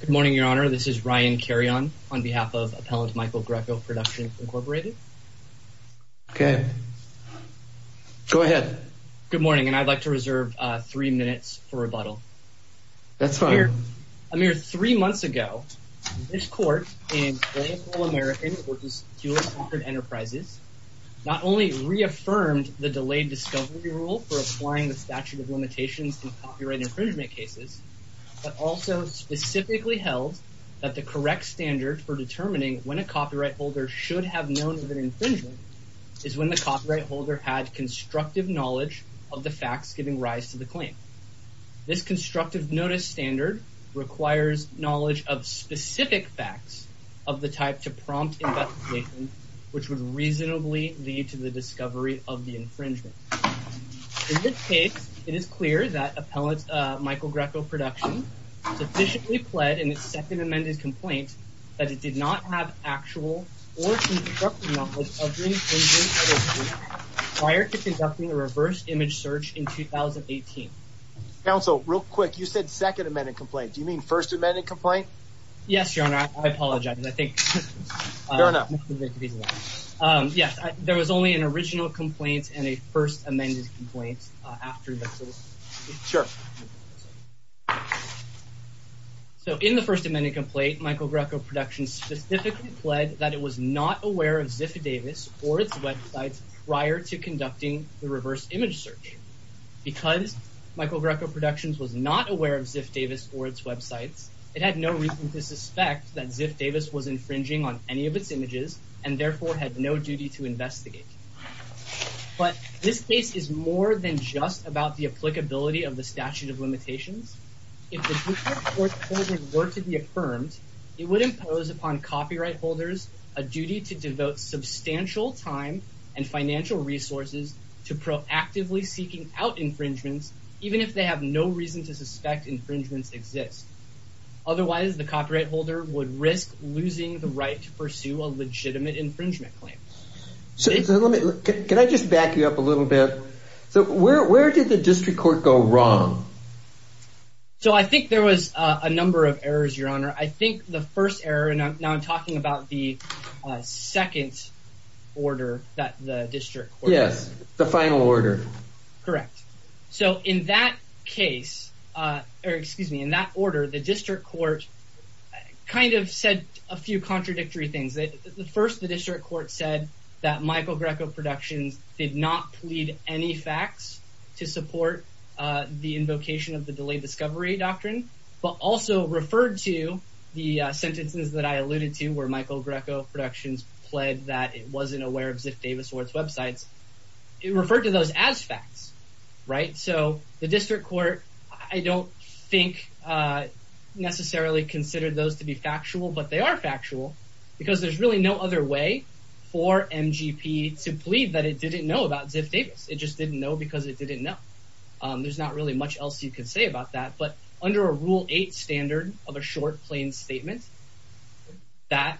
Good morning, Your Honor. This is Ryan Carreon on behalf of Appellant Michael Grecco Productions, Incorporated. Okay, go ahead. Good morning, and I'd like to reserve three minutes for rebuttal. That's fine. A mere three months ago, this court in Claypool, America, which is Hewlett-Packard Enterprises, not only reaffirmed the delayed discovery rule for applying the statute of infringement, but specifically held that the correct standard for determining when a copyright holder should have known of an infringement is when the copyright holder had constructive knowledge of the facts giving rise to the claim. This constructive notice standard requires knowledge of specific facts of the type to prompt investigation, which would reasonably lead to the discovery of the infringement. In this case, it is clear that Appellant Michael Grecco Productions sufficiently pled in its second amended complaint that it did not have actual or constructive knowledge of the infringement prior to conducting a reverse image search in 2018. Counsel, real quick, you said second amended complaint. Do you mean first amended complaint? Yes, Your Honor. I apologize. Yes, there was only an original complaint and a first amended complaint after that. Sure. So in the first amended complaint, Michael Grecco Productions specifically pled that it was not aware of Ziff Davis or its websites prior to conducting the reverse image search. Because Michael Grecco Productions was not aware of Ziff Davis or its websites, it had no reason to suspect that Ziff Davis was infringing on any of its images and therefore had no duty to investigate. But this case is more than just about the applicability of the statute of limitations. If the Dupree Court order were to be affirmed, it would impose upon copyright holders a duty to devote substantial time and financial resources to proactively seeking out infringements, even if they have no reason to suspect infringements exist. Otherwise, the copyright holder would risk losing the right to pursue a legitimate infringement claim. So let me, can I just back you up a little bit? So where did the District Court go wrong? So I think there was a number of errors, Your Honor. I think the first error, and now I'm talking about the second order that the District Court. Yes, the final order. Correct. So in that case, or excuse me, in that order, the District Court kind of said a few contradictory things. The first, the District Court said that Michael Grecco Productions did not plead any facts to support the invocation of the Delayed Discovery Doctrine, but also referred to the sentences that I alluded to, where Michael Grecco Productions pled that it wasn't aware of Ziff Davis or its I don't think necessarily considered those to be factual, but they are factual because there's really no other way for MGP to plead that it didn't know about Ziff Davis. It just didn't know because it didn't know. There's not really much else you can say about that, but under a rule eight standard of a short, plain statement, that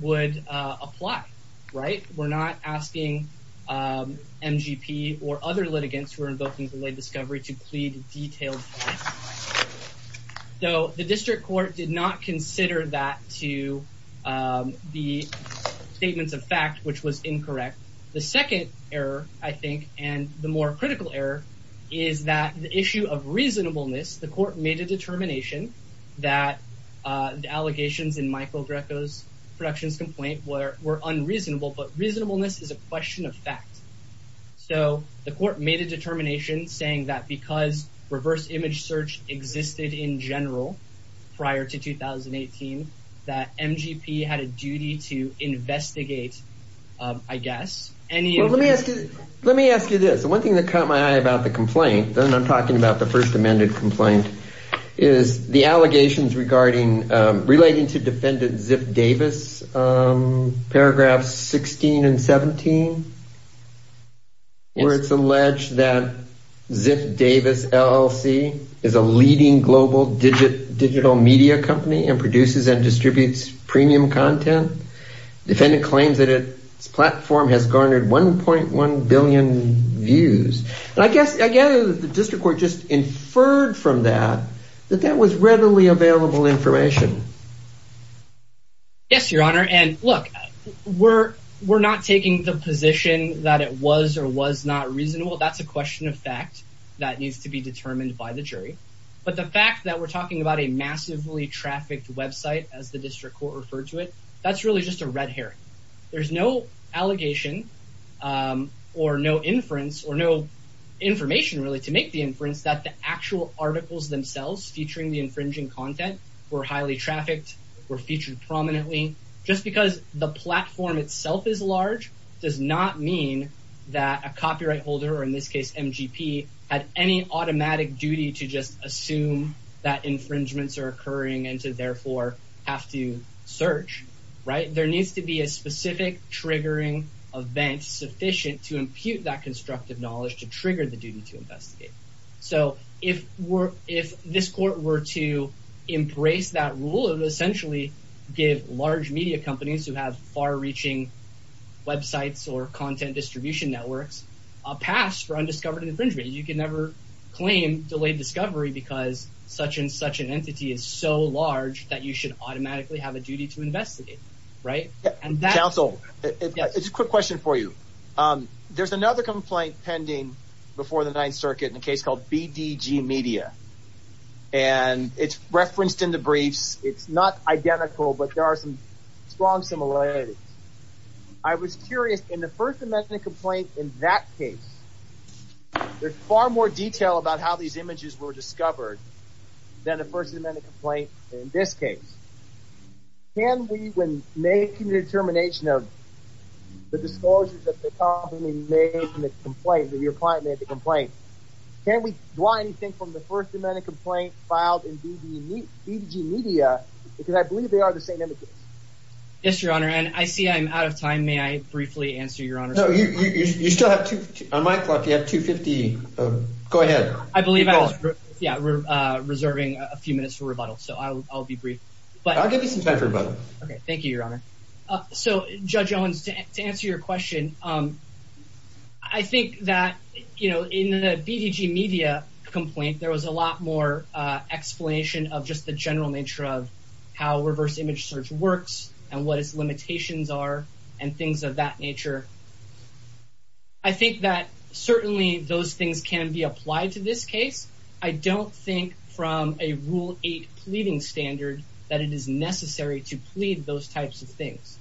would apply, right? We're not asking MGP or detailed facts. So the District Court did not consider that to be statements of fact, which was incorrect. The second error, I think, and the more critical error, is that the issue of reasonableness, the court made a determination that the allegations in Michael Grecco Productions complaint were unreasonable, but reasonableness is a question of fact. So the court made a reverse image search existed in general, prior to 2018, that MGP had a duty to investigate, I guess, any... Let me ask you this. One thing that caught my eye about the complaint, then I'm talking about the first amended complaint, is the allegations regarding, relating to defendant Ziff Davis, paragraphs 16 and 17, where it's alleged that Ziff Davis LLC is a leading global digital media company and produces and distributes premium content. Defendant claims that its platform has garnered 1.1 billion views. And I guess, I guess the District Court just inferred from that, that that was readily available information. Yes, Your Honor. And look, we're not taking the position that it was or was not reasonable. That's a question of fact that needs to be determined by the jury. But the fact that we're talking about a massively trafficked website, as the District Court referred to it, that's really just a red herring. There's no allegation or no inference or no information, really, to make the inference that the actual articles themselves, featuring the infringing content, were highly trafficked, were featured prominently. Just because the platform itself is large, does not mean that a copyright holder, or in this case MGP, had any automatic duty to just assume that infringements are occurring and to therefore have to search, right? There needs to be a specific triggering event sufficient to impute that constructive knowledge to trigger the duty to investigate. So if this Court were to embrace that rule, it would essentially give large media companies who have far-reaching websites or content distribution networks a pass for undiscovered infringement. You can never claim delayed discovery because such and such an entity is so large that you should automatically have a duty to investigate, right? Counsel, it's a quick question for you. There's another complaint pending before the Ninth Circuit in a case called BDG Media, and it's referenced in the briefs. It's not identical, but there are some strong similarities. I was curious, in the First Amendment complaint in that case, there's far more detail about how these images were discovered than the First Amendment complaint in this case. Can we, when making the determination of the disclosures that the company made in the complaint, that your client made the complaint, can we draw anything from the First Amendment complaint filed in BDG Media? Because I believe they are the same images. Yes, Your Honor, and I see I'm out of time. May I briefly answer, Your Honor? No, you still have two, on my clock, you have 250. Go ahead. I believe I was, yeah, we're reserving a few minutes for rebuttal, so I'll be brief. But I'll give you some time for rebuttal. Okay, thank you, Your Honor. So, Judge Owens, to answer your question, I think that, you know, in the BDG Media complaint, there was a lot more explanation of just the general nature of how reverse image search works, and what its limitations are, and things of that nature. I think that certainly those things can be applied to this case. I don't think, from a Rule 8 pleading standard, that it is necessary to plead those types of things.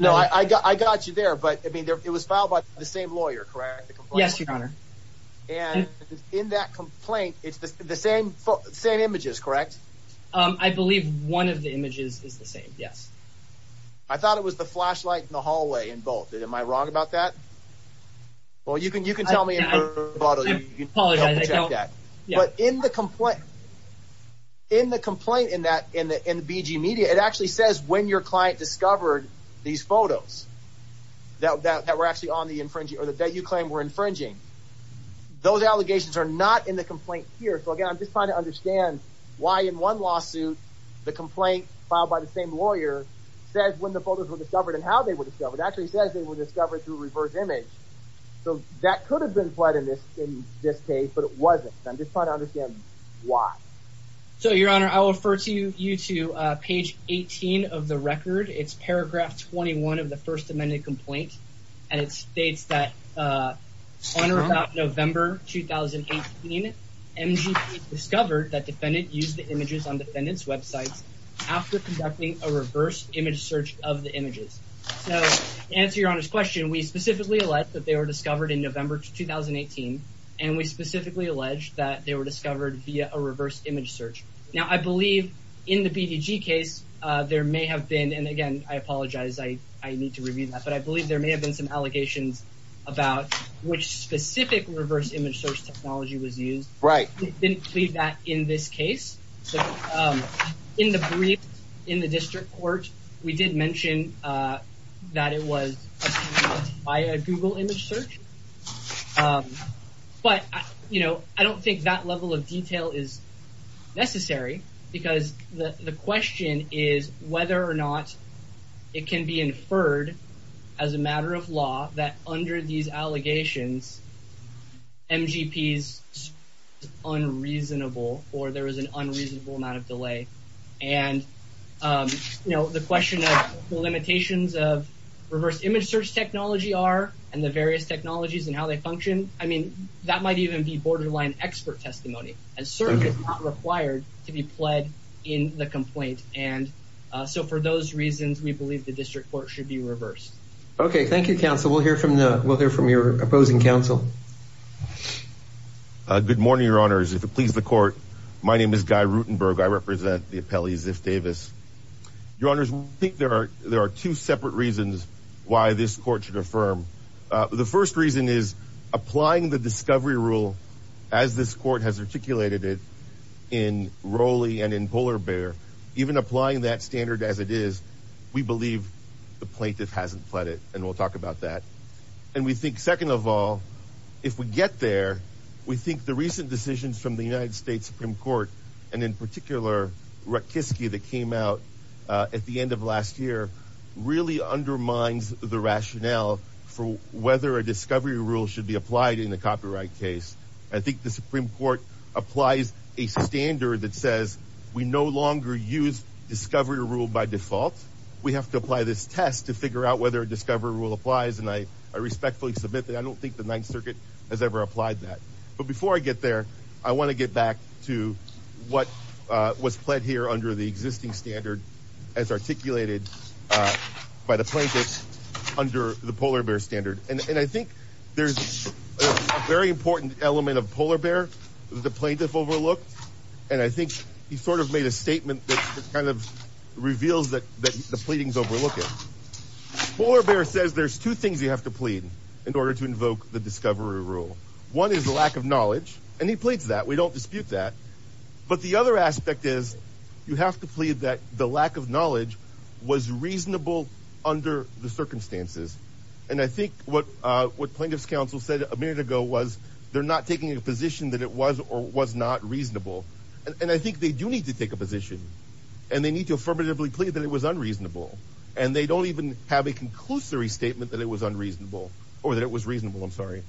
No, I got you there, but, I mean, it was filed by the same lawyer, correct? Yes, Your Honor. And in that complaint, it's the same images, correct? I believe one of the images is the same, yes. I thought it was the flashlight in the hallway involved. Am I wrong about that? Well, you can tell me in rebuttal, you can check that. But in the complaint, in the complaint in that, in the BDG Media, it actually says when your client discovered these photos, that were actually on the infringing, or that you claim were infringing. Those allegations are not in the complaint here. So, again, I'm just trying to understand why in one lawsuit, the complaint filed by the same lawyer says when the photos were discovered, and how they were discovered, actually says they were discovered through reverse image. So, that could have been fled in this case, but it wasn't. I'm just trying to understand why. So, Your Honor, I will refer to you to page 18 of the record. It's paragraph 21 of the First Amendment complaint, and it states that on or about November 2018, MGP discovered that defendant used the images on defendant's websites after conducting a reverse image search of the website. So, to answer Your Honor's question, we specifically allege that they were discovered in November 2018, and we specifically allege that they were discovered via a reverse image search. Now, I believe in the BDG case, there may have been, and again, I apologize, I need to review that, but I believe there may have been some allegations about which specific reverse image search technology was used. Right. We didn't plead that in this case. In the brief in the that it was by a Google image search. But, you know, I don't think that level of detail is necessary, because the question is whether or not it can be inferred as a matter of law, that under these allegations, MGP is unreasonable, or there is an unreasonable amount of delay. And, you know, the question of the limitations of reverse image search technology are, and the various technologies and how they function, I mean, that might even be borderline expert testimony, and certainly not required to be pled in the complaint. And so, for those reasons, we believe the district court should be reversed. Okay, thank you, counsel. We'll hear from the, we'll hear from your opposing counsel. Good morning, Your Honors. If it pleases the court, my name is Guy Rutenberg. I represent the appellee, Ziff Davis. Your Honors, I think there are two separate reasons why this court should affirm. The first reason is applying the discovery rule, as this court has articulated it in Rowley and in Polar Bear, even applying that standard as it is, we believe the plaintiff hasn't pled it, and we'll talk about that. And we think, second of all, if we get there, we think the recent decisions from the United States Supreme Court, and in particular, Rutkiski that came out at the end of last year, really undermines the rationale for whether a discovery rule should be applied in a copyright case. I think the Supreme Court applies a standard that says we no longer use discovery rule by default. We have to apply this test to figure out whether a discovery rule applies, and I respectfully submit that I don't think the Ninth Circuit has ever applied that. But before I get there, I want to get back to what was pled here under the existing standard as articulated by the plaintiffs under the Polar Bear standard. And I think there's a very important element of Polar Bear that the plaintiff overlooked, and I think he sort of made a statement that kind of reveals that the pleadings overlook it. Polar Bear says there's two things you have to plead in order to invoke the discovery rule. One is the lack of knowledge, and he pleads that. We don't dispute that. But the other aspect is you have to plead that the lack of knowledge was reasonable under the circumstances. And I think what plaintiffs' counsel said a minute ago was they're not taking a position that it was or was not reasonable. And I think they do need to take a position, and they need to affirmatively plead that it was unreasonable. And they don't even have a conclusory statement that it was unreasonable, or that it was reasonable, I'm sorry.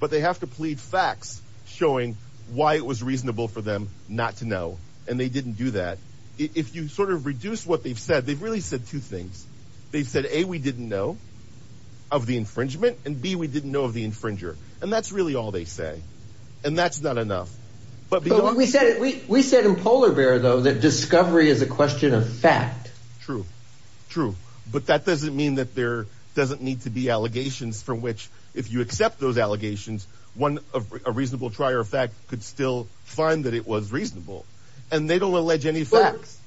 But they have to plead facts showing why it was reasonable for them not to know, and they didn't do that. If you sort of reduce what they've said, they've really said two things. They've said, A, we didn't know of the infringement, and B, we didn't know of the infringer. And that's really all they say. And that's not enough. We said in Polar Bear, though, that discovery is a question of fact. True, true. But that doesn't mean that there doesn't need to be allegations from which, if you accept those allegations, a reasonable trier of fact could still find that it was reasonable. And they don't allege any facts.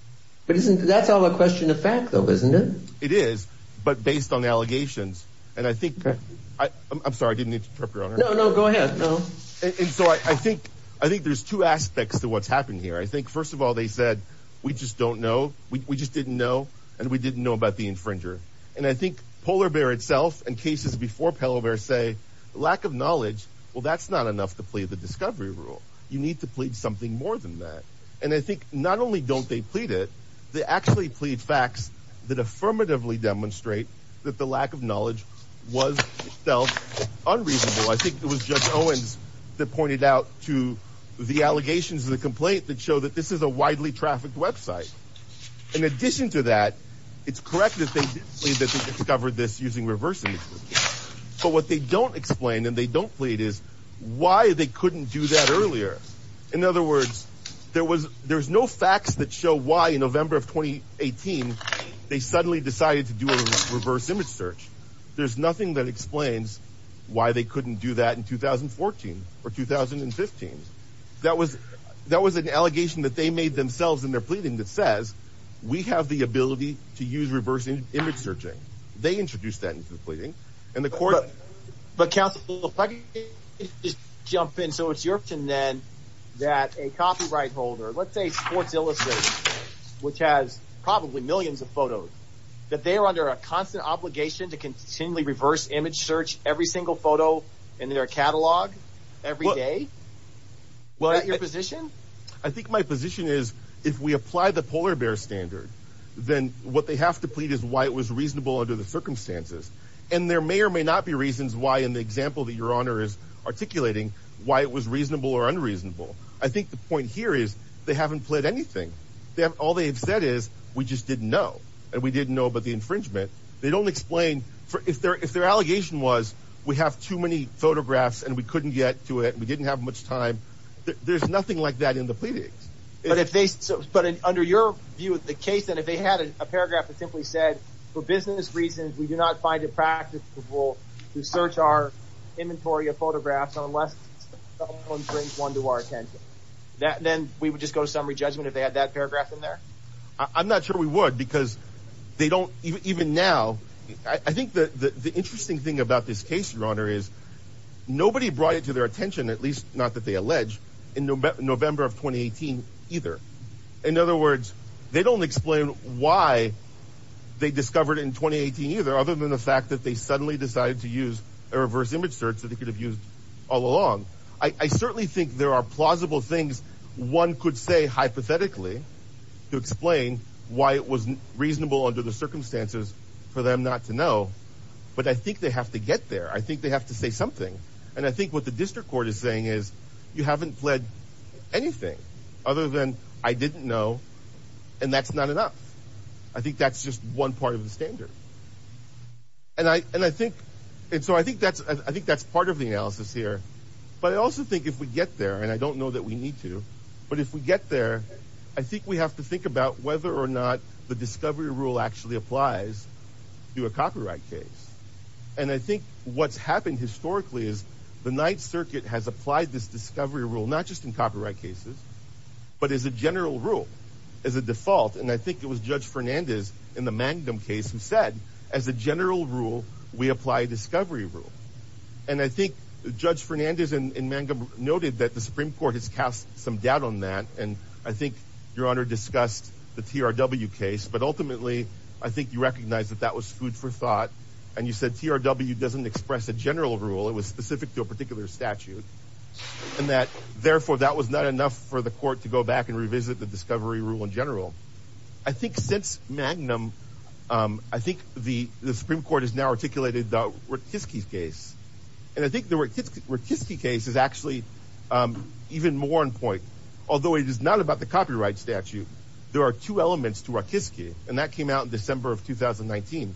But that's all a question of fact, though, isn't it? It is, but based on the allegations. And I think, I'm sorry, I didn't mean to interrupt, Your Honor. No, no, go ahead, no. And so I think there's two aspects to what's happened here. I think, first of all, they said, we just don't know, we just didn't know, and we didn't know about the infringer. And I think Polar Bear itself and cases before Polar Bear say, lack of knowledge, well, that's not enough to plead the discovery rule. You need to plead something more than that. And I think not only don't they plead it, they actually plead facts that affirmatively demonstrate that the lack of knowledge was itself unreasonable. I think it was Judge Owens that pointed out to the allegations of the complaint that show that this is a widely trafficked website. In addition to that, it's correct that they discovered this using reverse images. But what they don't explain and they don't plead is why they couldn't do that earlier. In other words, there's no facts that show why in November of 2018 they suddenly decided to do a reverse image search. There's nothing that explains why they couldn't do that in 2014 or 2015. That was an allegation that they made themselves in their pleading that says, we have the ability to use reversing image searching. They introduced that into the pleading and the court. But counsel, if I could just jump in. So it's Yorkton then that a copyright holder, let's say Sports Illicit, which has probably millions of photos, that they are under a constant obligation to continually reverse image search every single photo in their catalog every day. Is that your position? I think my position is if we apply the polar bear standard, then what they have to plead is why it was reasonable under the circumstances. And there may or may not be reasons why, in the example that your honor is articulating, why it was reasonable or unreasonable. I think the point here is they haven't pled anything. All they've said is we just didn't know. And we didn't know about the infringement. They don't explain. If their allegation was we have too many photographs and we couldn't get to it, we didn't have much time. There's nothing like that in the pleadings. But under your view of the case, then if they had a paragraph that simply said, for business reasons, we do not find it practicable to search our inventory of photographs unless someone brings one to our office. I'm not sure we would because they don't even now. I think the interesting thing about this case, your honor, is nobody brought it to their attention, at least not that they allege in November of 2018 either. In other words, they don't explain why they discovered in 2018 either, other than the fact that they suddenly decided to use a reverse image search that they could have used all along. I certainly think there are plausible things one could say hypothetically. To explain why it was reasonable under the circumstances for them not to know. But I think they have to get there. I think they have to say something. And I think what the district court is saying is you haven't fled anything other than I didn't know and that's not enough. I think that's just one part of the standard. And I think, and so I think that's part of the analysis here. But I also think if we get there, and I don't know that we need to, but if we get there, I think we have to think about whether or not the discovery rule actually applies to a copyright case. And I think what's happened historically is the Ninth Circuit has applied this discovery rule, not just in copyright cases, but as a general rule, as a default. And I think it was Judge Fernandez in the Mangum case who said, as a general rule, we apply a discovery rule. And I think Judge Fernandez in Mangum noted that the Supreme Court has now articulated the Ratisky case. And I think the Ratisky case is actually even more in point. Although it is not about the copyright statute, there are two elements to Ratisky. And that came out in December of 2019.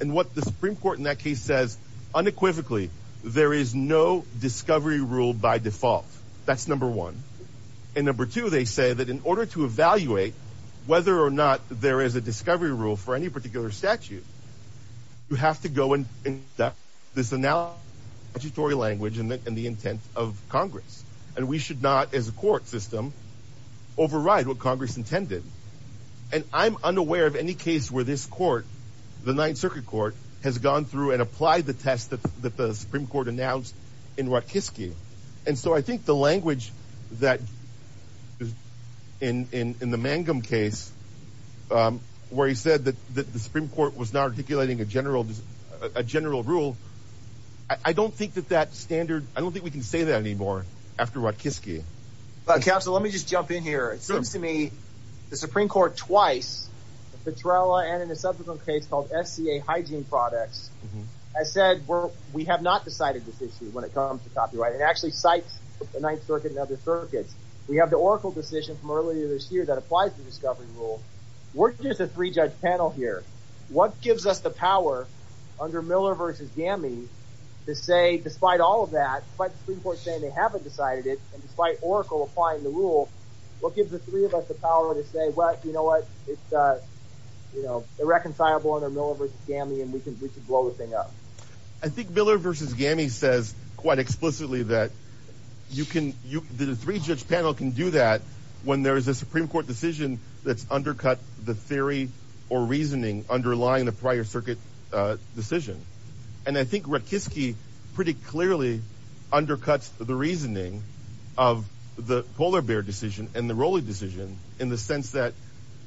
And what the Supreme Court in that case says unequivocally, there is no discovery rule by default. That's number one. And number two, they say that in order to evaluate whether or not there is a discovery rule for any should not, as a court system, override what Congress intended. And I'm unaware of any case where this court, the Ninth Circuit Court, has gone through and applied the test that the Supreme Court announced in Ratisky. And so I think the language that in the Mangum case, where he said that the Supreme Court was not articulating a general rule, I don't think that that standard, I don't think we can say that anymore, after Ratisky. Counsel, let me just jump in here. It seems to me, the Supreme Court twice, Petrella and in a subsequent case called SCA Hygiene Products, has said we're, we have not decided this issue when it comes to copyright and actually cites the Ninth Circuit and other circuits. We have the Oracle decision from earlier this year that applies the discovery rule. We're just a three judge panel here. What gives us the power under Miller v. Gammy to say, despite all of that, despite the Supreme Court saying they haven't decided it, and despite Oracle applying the rule, what gives the three of us the power to say, well, you know what, it's, you know, irreconcilable under Miller v. Gammy and we can, we can blow the thing up. I think Miller v. Gammy says quite explicitly that you can, you, the three judge panel can do that when there is a Supreme Court decision that's undercut the Ninth Circuit decision. And I think Ratkiski pretty clearly undercuts the reasoning of the Polar Bear decision and the Rowley decision in the sense that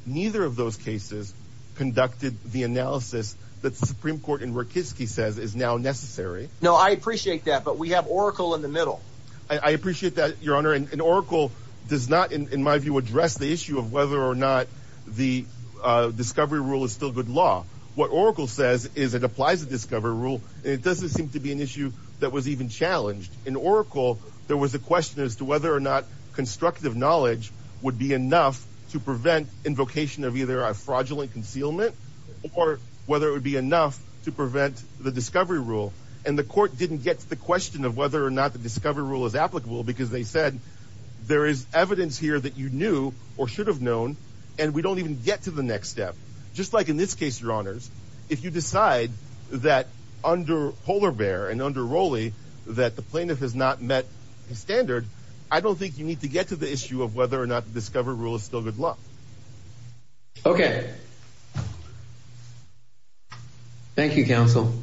neither of those cases conducted the analysis that the Supreme Court in Ratkiski says is now necessary. No, I appreciate that, but we have Oracle in the middle. I appreciate that, Your Honor. And Oracle does not, in my view, address the issue of whether or not the discovery rule is still good law. What Oracle says is it applies the discovery rule. It doesn't seem to be an issue that was even challenged. In Oracle, there was a question as to whether or not constructive knowledge would be enough to prevent invocation of either a fraudulent concealment or whether it would be enough to prevent the discovery rule. And the court didn't get to the question of whether or not the discovery rule is applicable because they said there is evidence here that you knew or should have known and we don't even get to the next step. Just like in this case, Your Honors, if you decide that under Polar Bear and under Rowley that the plaintiff has not met the standard, I don't think you need to get to the issue of whether or not the discovery rule is still good law. Okay. Thank you, counsel.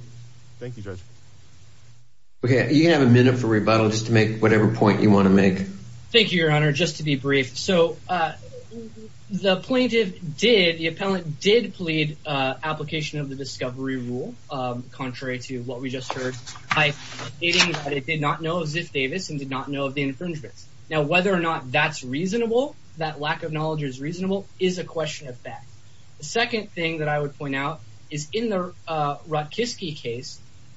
Thank you, Judge. Okay, you have a minute for rebuttal just to make whatever point you want to make. Thank you, Your Honor. Just to be brief, so the plaintiff did, the appellant did plead application of the discovery rule contrary to what we just heard by stating that it did not know of Ziff Davis and did not know of the infringements. Now, whether or not that's reasonable, that lack of knowledge is reasonable, is a question of fact. The second thing that I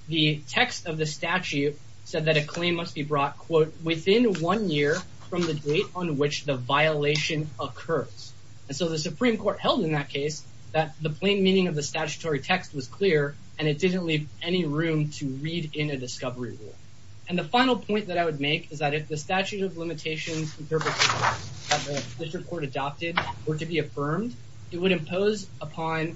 the text of the statute said that a claim must be brought, quote, within one year from the date on which the violation occurs. And so the Supreme Court held in that case that the plain meaning of the statutory text was clear and it didn't leave any room to read in a discovery rule. And the final point that I would make is that if the statute of limitations interpreters that the district court adopted were to be affirmed, it would impose upon,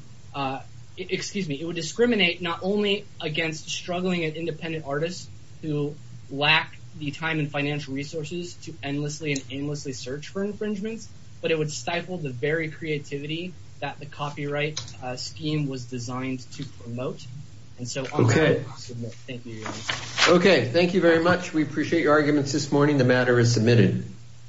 excuse me, would discriminate not only against struggling and independent artists who lack the time and financial resources to endlessly and aimlessly search for infringements, but it would stifle the very creativity that the copyright scheme was designed to promote. And so I'll submit. Okay, thank you very much. We appreciate your arguments this morning. The matter is submitted.